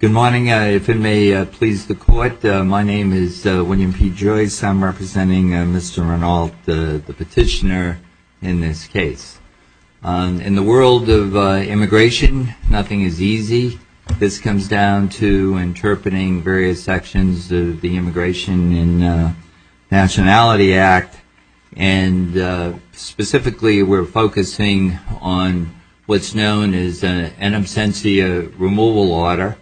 Good morning. If it may please the Court, my name is William P. Joyce. I'm representing Mr. Renault, the petitioner in this case. In the world of immigration, nothing is easy. This comes down to interpreting various sections of the Immigration and Nationality Act, and specifically we're focusing on what's known as an in absentia removal order.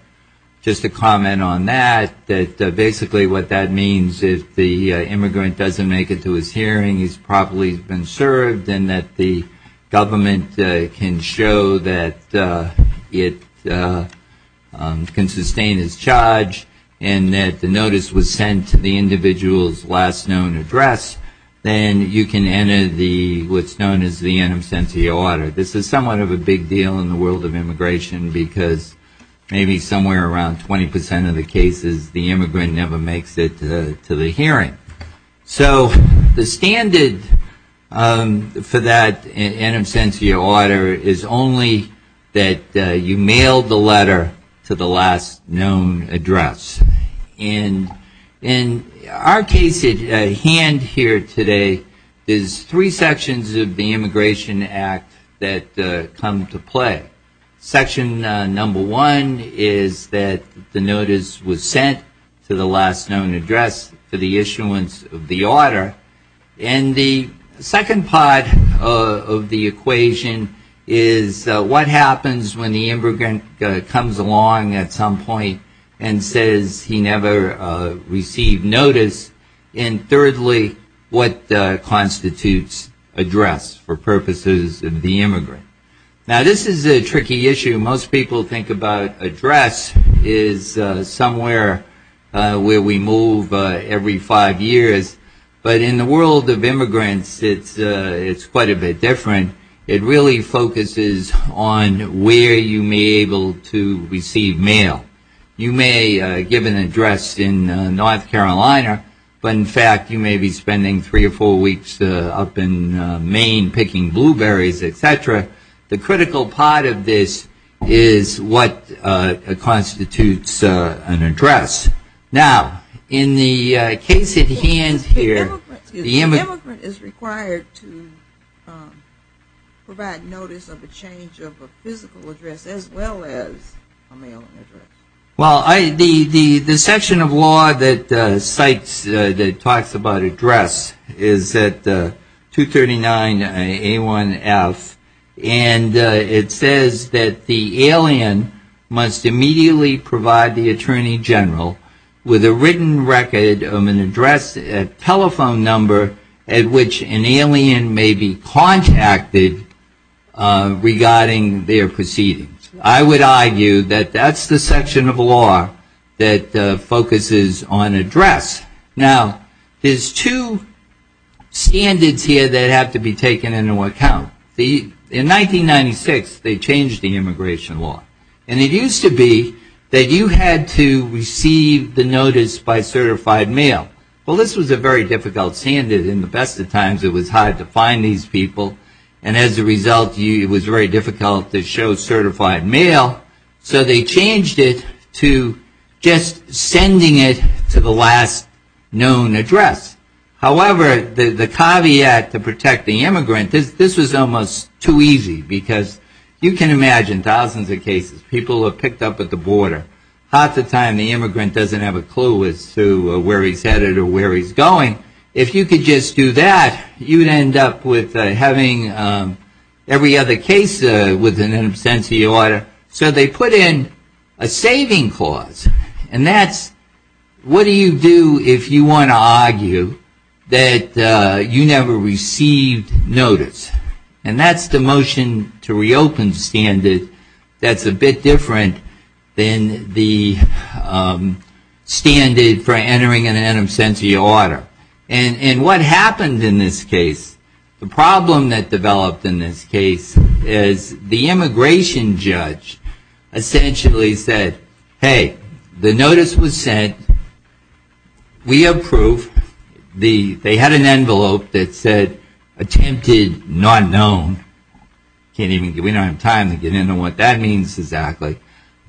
Just to comment on that, that basically what that means is if the immigrant doesn't make it to his hearing, he's properly been served, and that the government can show that it can sustain his charge, and that the notice was sent to the individual's last known address, then you can enter what's known as the in absentia order. This is somewhat of a big deal in the world of immigration, because maybe somewhere around 20% of the immigrant never makes it to the hearing. So the standard for that in absentia order is only that you mail the letter to the last known address. And in our case at hand here today is three sections of the Immigration Act that come to play. Section number one is that the notice was sent to the last known address for the issuance of the order. And the second part of the equation is what happens when the immigrant comes along at some point and says he never received notice. And thirdly, what constitutes address for purposes of the address is somewhere where we move every five years. But in the world of immigrants, it's quite a bit different. It really focuses on where you may be able to receive mail. You may give an address in North Carolina, but in fact you may be spending three or four weeks up in Maine picking blueberries, et cetera. The critical part of this is what constitutes an address. Now, in the case at hand here, the immigrant is required to provide notice of a change of a physical address as well as a mailing address. Well, the section of law that cites, that talks about address is at 239A1F. And it says that the alien must immediately provide the Attorney General with a written record of an address, a telephone number at which an alien may be contacted regarding their proceedings. I would argue that that's the section of law that focuses on address. Now, there's two standards here that have to be taken into account. In 1996, they changed the immigration law. And it used to be that you had to receive the notice by certified mail. Well, this was a very difficult standard. In the best of times, it was hard to find these people. And as a result, it was very difficult to show certified mail. So they changed it to just sending it to the last known address. However, the caveat to protect the immigrant, this was almost too easy. Because you can imagine thousands of cases, people are picked up at the border. Half the time, the immigrant doesn't have a clue as to where he's headed or where he's going. If you could just do that, you'd end up with having every other case with an in absentia order. So they put in a saving clause. And that's, what do you do if you want to argue that you never received notice? And that's the motion to reopen standard that's a bit different than the standard for entering an in absentia order. And what happened in this case, the problem that developed in this case, is the immigration judge essentially said, hey, the notice was sent. We approve. They had an envelope that said, attempted not known. We don't have time to get into what that means exactly.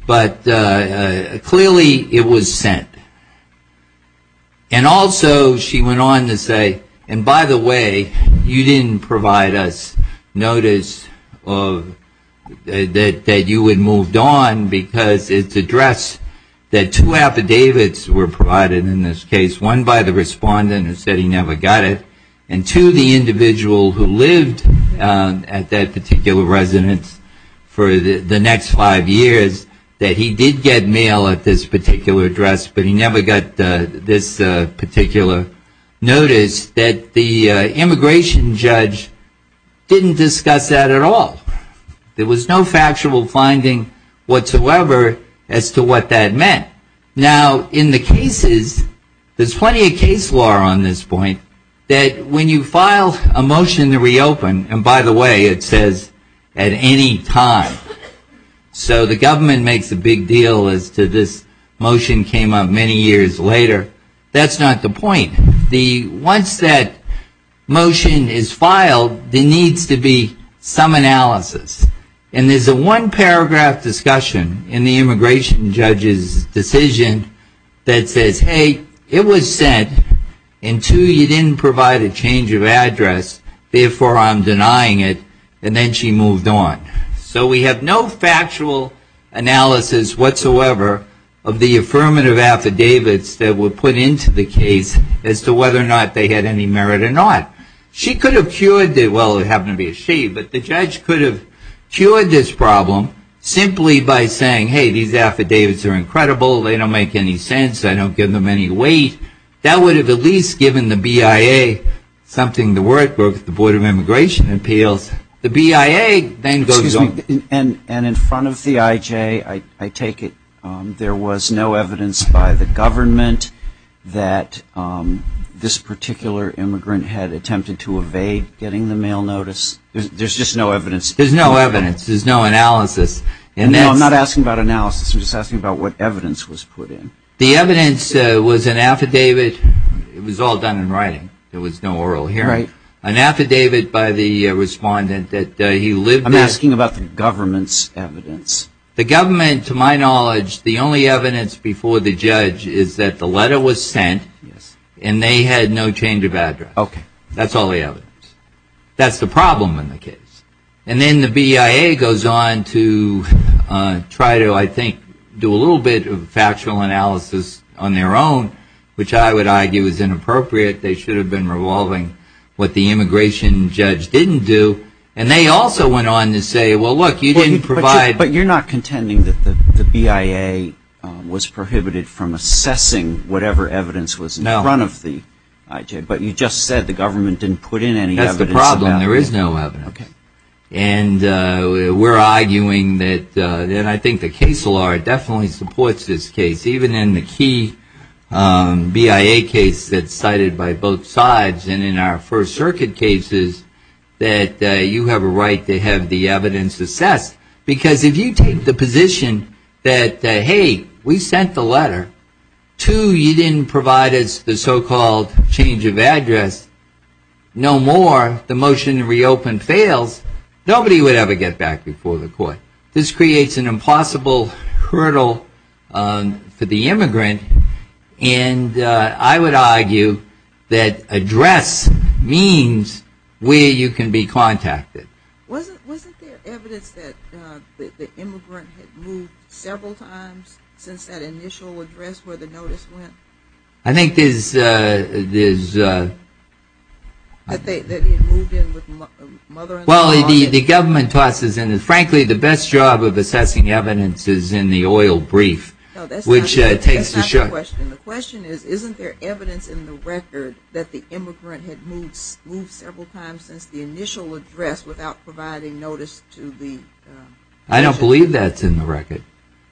But clearly, it was sent. And also, she went on to say, and by the way, you didn't provide us notice that you had moved on because it's addressed that two affidavits were provided in this case. One by the respondent who said he never got it. And two, the individual who lived at that particular residence for the next five years, that he did get mail at this particular address. But he never got this particular notice that the immigration judge didn't discuss that at all. There was no factual finding whatsoever as to what that meant. Now, in the cases, there's plenty of case law on this point that when you file a motion to reopen, and by the way, it says at any time. So the government makes a big deal as to this motion came up many years later. That's not the point. Once that motion is filed, there needs to be some analysis. And there's a one paragraph discussion in the immigration judge's decision that says, hey, it was sent, and two, you didn't provide a change of address, therefore I'm denying it, and then she moved on. So we have no factual analysis whatsoever of the affirmative affidavits that were put into the case as to whether or not they had any merit or not. She could have cured it well, it happened to be a she, but the judge could have cured this problem simply by saying, hey, these affidavits are incredible, they don't make any sense, I don't give them any weight. That would have at least given the BIA something to work with, the Board of Immigration Appeals. The BIA then goes on. And in front of the IJ, I take it there was no evidence by the government that this particular immigrant had attempted to evade getting the mail notice? There's just no evidence? There's no evidence. There's no analysis. No, I'm not asking about analysis. I'm just asking about what evidence was put in. The evidence was an affidavit. It was all done in writing. There was no oral hearing. An affidavit by the respondent that he lived at. I'm asking about the government's evidence. The government, to my knowledge, the only evidence before the judge is that the letter was sent and they had no change of address. That's all the evidence. That's the problem in the case. And then the BIA goes on to try to, I think, do a little bit of factual analysis on their own, which I would argue is inappropriate. They should have been revolving what the immigration judge didn't do. And they also went on to say, well, look, you didn't provide. But you're not contending that the BIA was prohibited from assessing whatever evidence was in front of the IJ. But you just said the government didn't put in any evidence. That's the problem. There is no evidence. And we're arguing that, and I think the case law definitely supports this case, even in the key BIA case that's cited by both sides and in our First Circuit cases, that you have a right to have the evidence assessed. Because if you take the position that, hey, we sent the letter. Two, you didn't provide us the so-called change of address. No more. The motion to reopen fails. Nobody would ever get back before the court. This creates an impossible hurdle for the immigrant. And I would argue that address means where you can be contacted. Wasn't there evidence that the immigrant had moved several times since that initial address where the notice went? I think there's, uh, there's, uh. That they had moved in with a mother in law? Well, the government tosses in, frankly, the best job of assessing evidence is in the oil brief, which takes the shot. No, that's not the question. The question is, isn't there evidence in the record that the immigrant had moved several times since the initial address without providing notice to the? I don't believe that's in the record.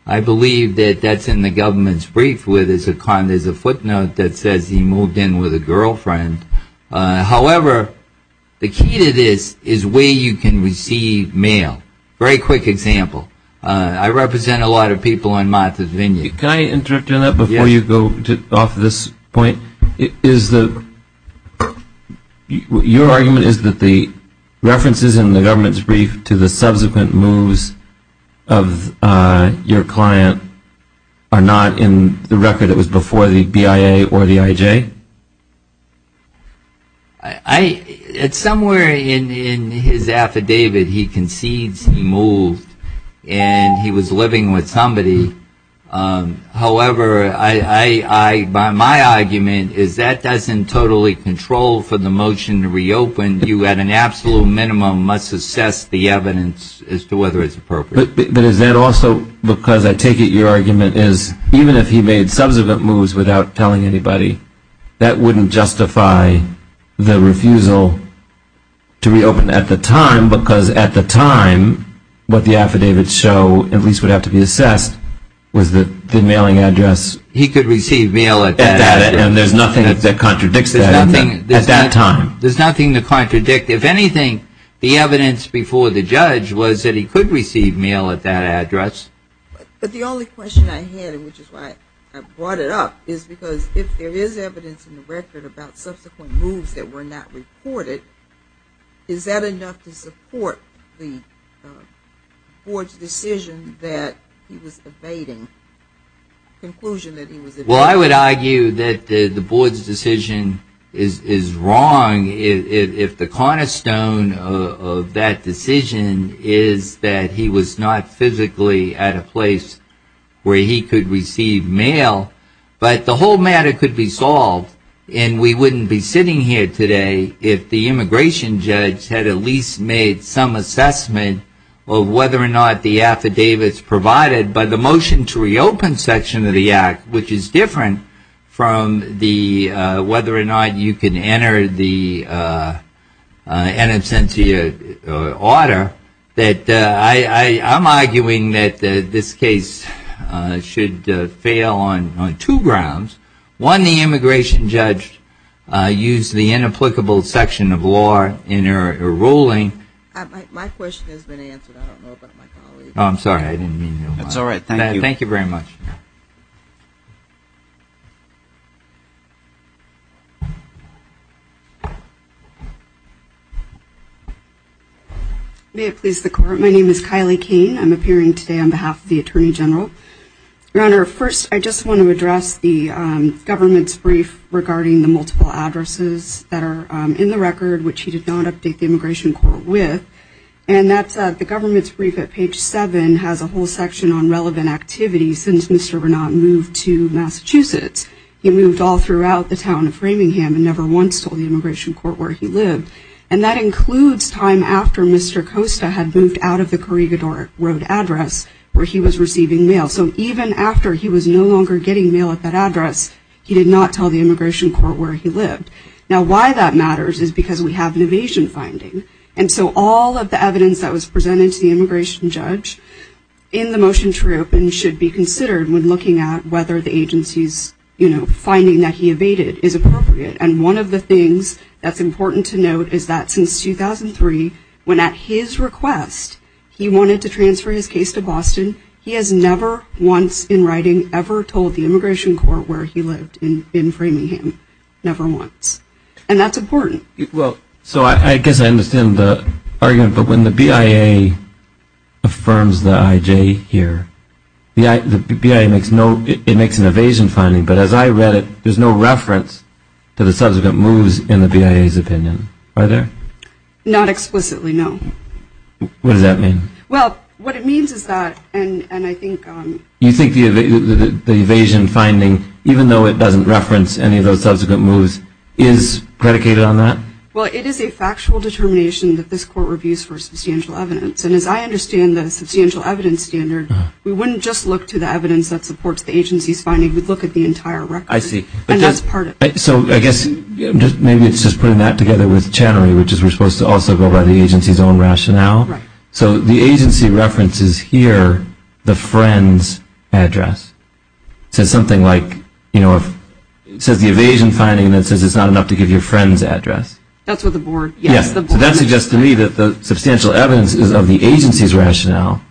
I believe that that's in the government's brief where there's a footnote that says he moved in with a girlfriend. However, the key to this is where you can receive mail. Very quick example. I represent a lot of people on Martha's Vineyard. Can I interrupt you on that before you go off this point? Is the, your argument is that the references in the government's brief to the subsequent moves of your client are not in the record? It was before the BIA or the IJ? I, it's somewhere in his affidavit. He concedes he moved and he was living with somebody. However, I, by my argument, is that doesn't totally control for the motion to reopen. You at an absolute minimum must assess the evidence as to whether it's appropriate. But is that also because I take it your argument is even if he made subsequent moves without telling anybody, that wouldn't justify the refusal to reopen at the time because at the time what the affidavits show, at least would have to be assessed, was that the mailing address. He could receive mail at that time. And there's nothing that contradicts that at that time. There's nothing to contradict. If anything, the evidence before the judge was that he could receive mail at that address. But the only question I had, which is why I brought it up, is because if there is evidence in the record about subsequent moves that were not reported, is that enough to support the board's decision that he was evading, conclusion that he was evading? Well, I would argue that the board's decision is wrong if the cornerstone of that decision is that he was not physically at a place where he could receive mail. But the whole matter could be solved and we wouldn't be sitting here today if the immigration judge had at least made some assessment of whether or not the affidavits provided by the motion to reopen section of the act, which is different from the whether or not you can enter the in absentia order, that I'm arguing that this case should fail on two grounds. One, the immigration judge used the inapplicable section of law in her ruling. My question has been answered. I don't know about my colleague. I'm sorry. I didn't mean to interrupt. That's all right. Thank you. Thank you very much. May it please the court. My name is Kylie Kane. I'm appearing today on behalf of the Attorney General. Your Honor, first, I just want to address the government's brief regarding the multiple addresses that are in the record, which he did not update the immigration court with. And the government's brief at page seven has a whole section on relevant activities since Mr. Renat moved to Massachusetts. He moved all throughout the town of Framingham and never once told the immigration court where he lived. And that includes time after Mr. Costa had moved out of the Corregidor Road address where he was receiving mail. So even after he was no longer getting mail at that address, he did not tell the immigration court where he lived. Now, why that matters is because we have an evasion finding. And so all of the evidence that was presented to the immigration judge in the motion to reopen should be considered when looking at whether the agency's, you know, finding that he evaded is appropriate. And one of the things that's important to note is that since 2003, when at his request, he wanted to transfer his case to Boston, he has never once in writing ever told the immigration court where he lived in Framingham, never once. And that's important. Well, so I guess I understand the argument. But when the BIA affirms the IJ here, the BIA makes no, it makes an evasion finding. But as I read it, there's no reference to the subsequent moves in the BIA's opinion. Are there? Not explicitly, no. What does that mean? Well, what it means is that, and I think... You think the evasion finding, even though it doesn't reference any of those subsequent moves, is predicated on that? Well, it is a factual determination that this court reviews for substantial evidence. And as I understand the substantial evidence standard, we wouldn't just look to the evidence that supports the agency's finding. We'd look at the entire record. I see. And that's part of it. So I guess maybe it's just putting that together with Channery, which is we're supposed to also go by the agency's own rationale. Right. So the agency references here the friend's address. So something like, you know, it says the evasion finding that says it's not enough to give your friend's address. That's what the board... Yes. So that suggests to me that the substantial evidence is of the agency's rationale,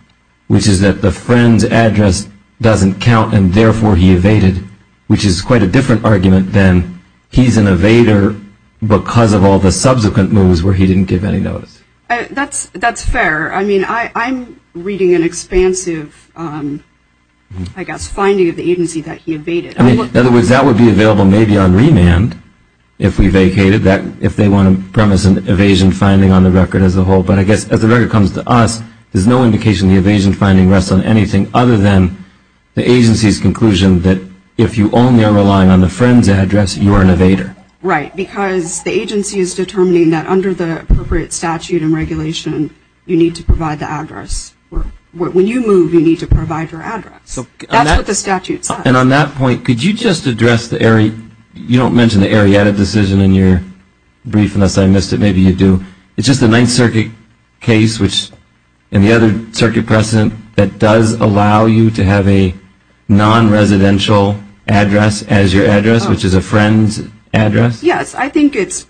which is that the friend's address doesn't count and therefore he evaded, which is quite a different argument than he's an evader because of all the subsequent moves where he didn't give any notice. That's fair. I mean, I'm reading an expansive, I guess, finding of the agency that he evaded. In other words, that would be available maybe on remand if we vacated that, if they want to premise an evasion finding on the record as a whole. But I guess as the record comes to us, there's no indication the evasion finding rests on anything other than the agency's conclusion that if you only are relying on the friend's address, you are an evader. Right, because the agency is determining that under the appropriate statute and regulation you need to provide the address. When you move, you need to provide your address. That's what the statute says. And on that point, could you just address the... You don't mention the Arietta decision in your brief unless I missed it. Maybe you do. It's just the Ninth Circuit case and the other circuit precedent that does allow you to have a non-residential address as your address, which is a friend's address? Yes. I think it's...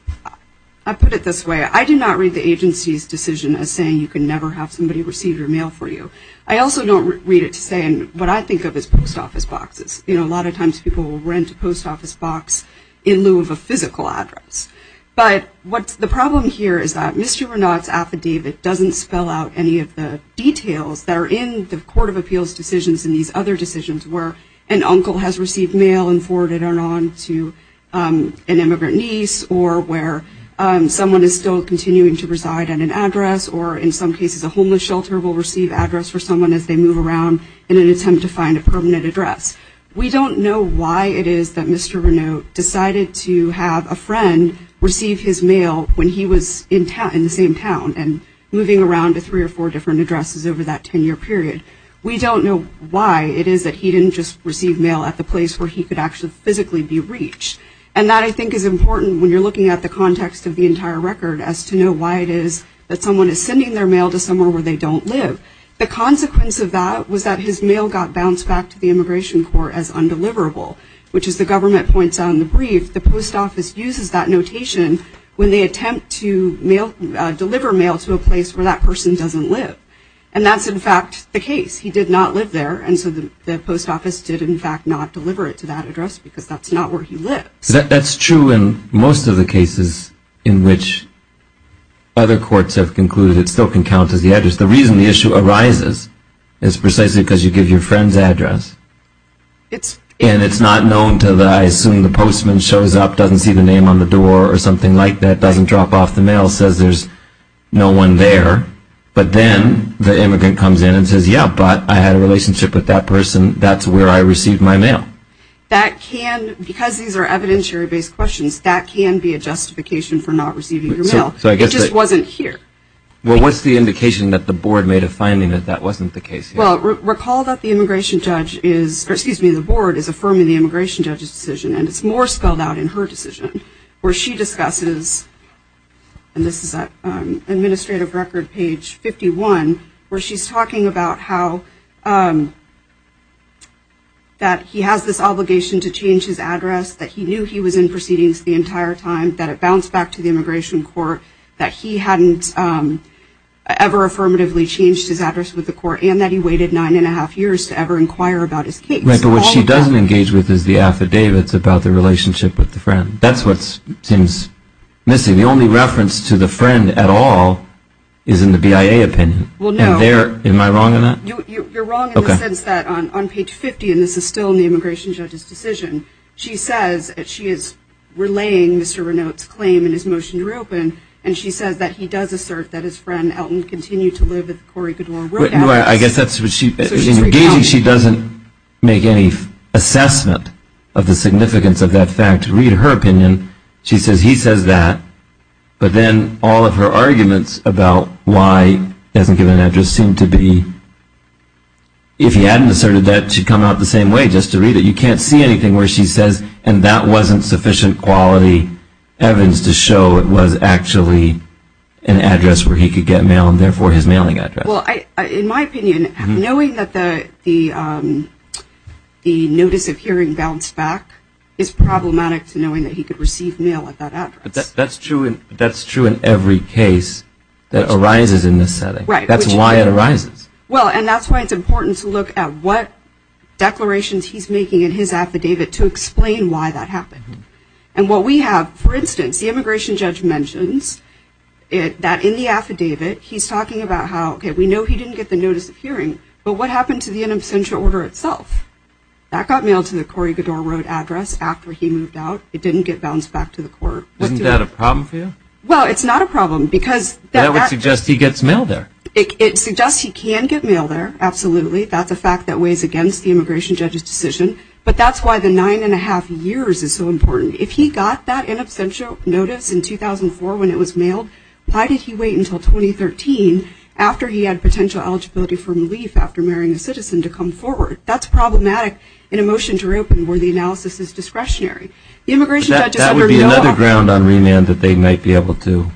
I'll put it this way. I do not read the agency's decision as saying you can never have somebody receive your mail for you. I also don't read it to say what I think of as post office boxes. You know, a lot of times people will rent a post office box in lieu of a physical address. But the problem here is that Mr. Renaud's affidavit doesn't spell out any of the details that are in the Court of Appeals decisions and these other decisions where an uncle has reside at an address or in some cases a homeless shelter will receive an address for someone as they move around in an attempt to find a permanent address. We don't know why it is that Mr. Renaud decided to have a friend receive his mail when he was in the same town and moving around to three or four different addresses over that 10-year period. We don't know why it is that he didn't just receive mail at the place where he could actually physically be reached. And that I think is important when you're looking at the context of the entire record as to know why it is that someone is sending their mail to somewhere where they don't live. The consequence of that was that his mail got bounced back to the Immigration Court as undeliverable, which as the government points out in the brief, the post office uses that notation when they attempt to mail, deliver mail to a place where that person doesn't live. And that's in fact the case. He did not live there and so the post office did in fact not deliver it to that address because that's not where he lives. That's true in most of the cases in which other courts have concluded it still can count as the address. The reason the issue arises is precisely because you give your friend's address and it's not known until I assume the postman shows up, doesn't see the name on the door or something like that, doesn't drop off the mail, says there's no one there. But then the immigrant comes in and says, yeah, but I had a relationship with that person. That's where I received my mail. That can, because these are evidentiary based questions, that can be a justification for not receiving your mail. It just wasn't here. Well, what's the indication that the board made a finding that that wasn't the case? Well, recall that the immigration judge is, or excuse me, the board is affirming the immigration judge's decision and it's more spelled out in her decision where she discusses, and this is at administrative record page 51, where she's talking about how that he has this obligation to change his address, that he knew he was in proceedings the entire time, that it bounced back to the immigration court, that he hadn't ever affirmatively changed his address with the court, and that he waited nine and a half years to ever inquire about his case. Right, but what she doesn't engage with is the affidavits about the relationship with the friend. That's what seems missing. The only reference to the friend at all is in the BIA opinion. Well, no. Am I wrong on that? You're wrong in the sense that on page 50, and this is still in the immigration judge's decision, she says that she is relaying Mr. Renault's claim in his motion to reopen, and she says that he does assert that his friend Elton continued to live at the Corrie Goodware Workhouse. I guess that's what she, in engaging she doesn't make any assessment of the significance of that fact. To read her opinion, she says he says that, but then all of her arguments about why he hasn't given an address seem to be, if he hadn't asserted that, she'd come out the same way. Just to read it, you can't see anything where she says, and that wasn't sufficient quality evidence to show it was actually an address where he could get mail, and therefore his mailing address. Well, in my opinion, knowing that the notice of hearing bounced back is problematic to knowing that he could receive mail at that address. But that's true in every case that arises in this setting. Right. That's why it arises. Well, and that's why it's important to look at what declarations he's making in his affidavit to explain why that happened. And what we have, for instance, the immigration judge mentions that in the affidavit, he's talking about how, okay, we know he didn't get the notice of hearing, but what happened to the in absentia order itself? That got mailed to the Cory Goddard Road address after he moved out. It didn't get bounced back to the court. Isn't that a problem for you? Well, it's not a problem because that actually It suggests he gets mail there. It suggests he can get mail there, absolutely. That's a fact that weighs against the immigration judge's decision. But that's why the nine-and-a-half years is so important. If he got that in absentia notice in 2004 when it was mailed, why did he wait until 2013, after he had potential eligibility for relief, after marrying a citizen, to come forward? That's problematic in a motion to reopen where the analysis is discretionary. That would be another ground on remand that they might be able to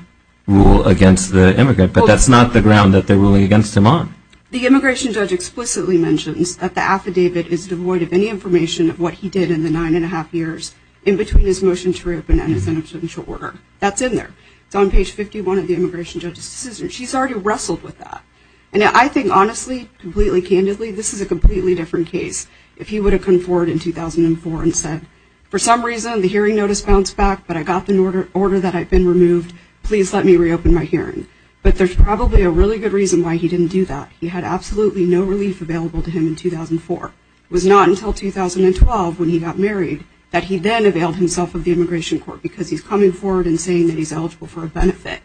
rule against the immigrant. But that's not the ground that they're ruling against him on. The immigration judge explicitly mentions that the affidavit is devoid of any information of what he did in the nine-and-a-half years in between his motion to reopen and his in absentia order. That's in there. It's on page 51 of the immigration judge's decision. She's already wrestled with that. And I think, honestly, completely candidly, this is a completely different case. If he would have come forward in 2004 and said, for some reason the hearing notice bounced back, but I got the order that I'd been removed, please let me reopen my hearing. But there's probably a really good reason why he didn't do that. He had absolutely no relief available to him in 2004. It was not until 2012 when he got married that he then availed himself of the immigration court because he's coming forward and saying that he's eligible for a benefit.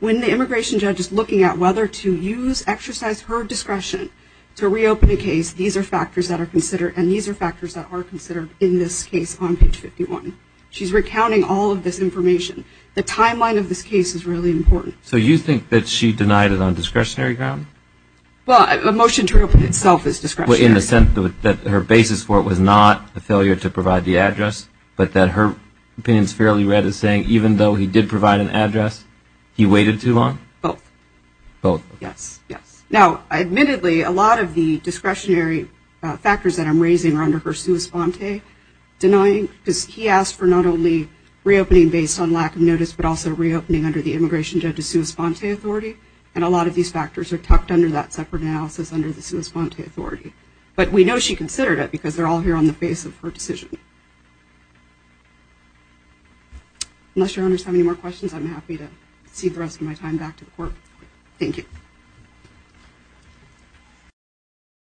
When the immigration judge is looking at whether to use, exercise her discretion to reopen a case, these are factors that are considered, and these are factors that are considered in this case on page 51. She's recounting all of this information. The timeline of this case is really important. So you think that she denied it on discretionary ground? Well, a motion to reopen itself is discretionary. In the sense that her basis for it was not a failure to provide the address, but that her opinion is fairly read as saying even though he did provide an address, he waited too long? Both. Both. Yes, yes. Now, admittedly, a lot of the discretionary factors that I'm raising are under her sua sponte denying because he asked for not only reopening based on lack of notice, but also reopening under the immigration judge's sua sponte authority, and a lot of these factors are tucked under that separate analysis under the sua sponte authority. But we know she considered it because they're all here on the face of her decision. Unless your Honors have any more questions, I'm happy to cede the rest of my time back to the Court. Thank you.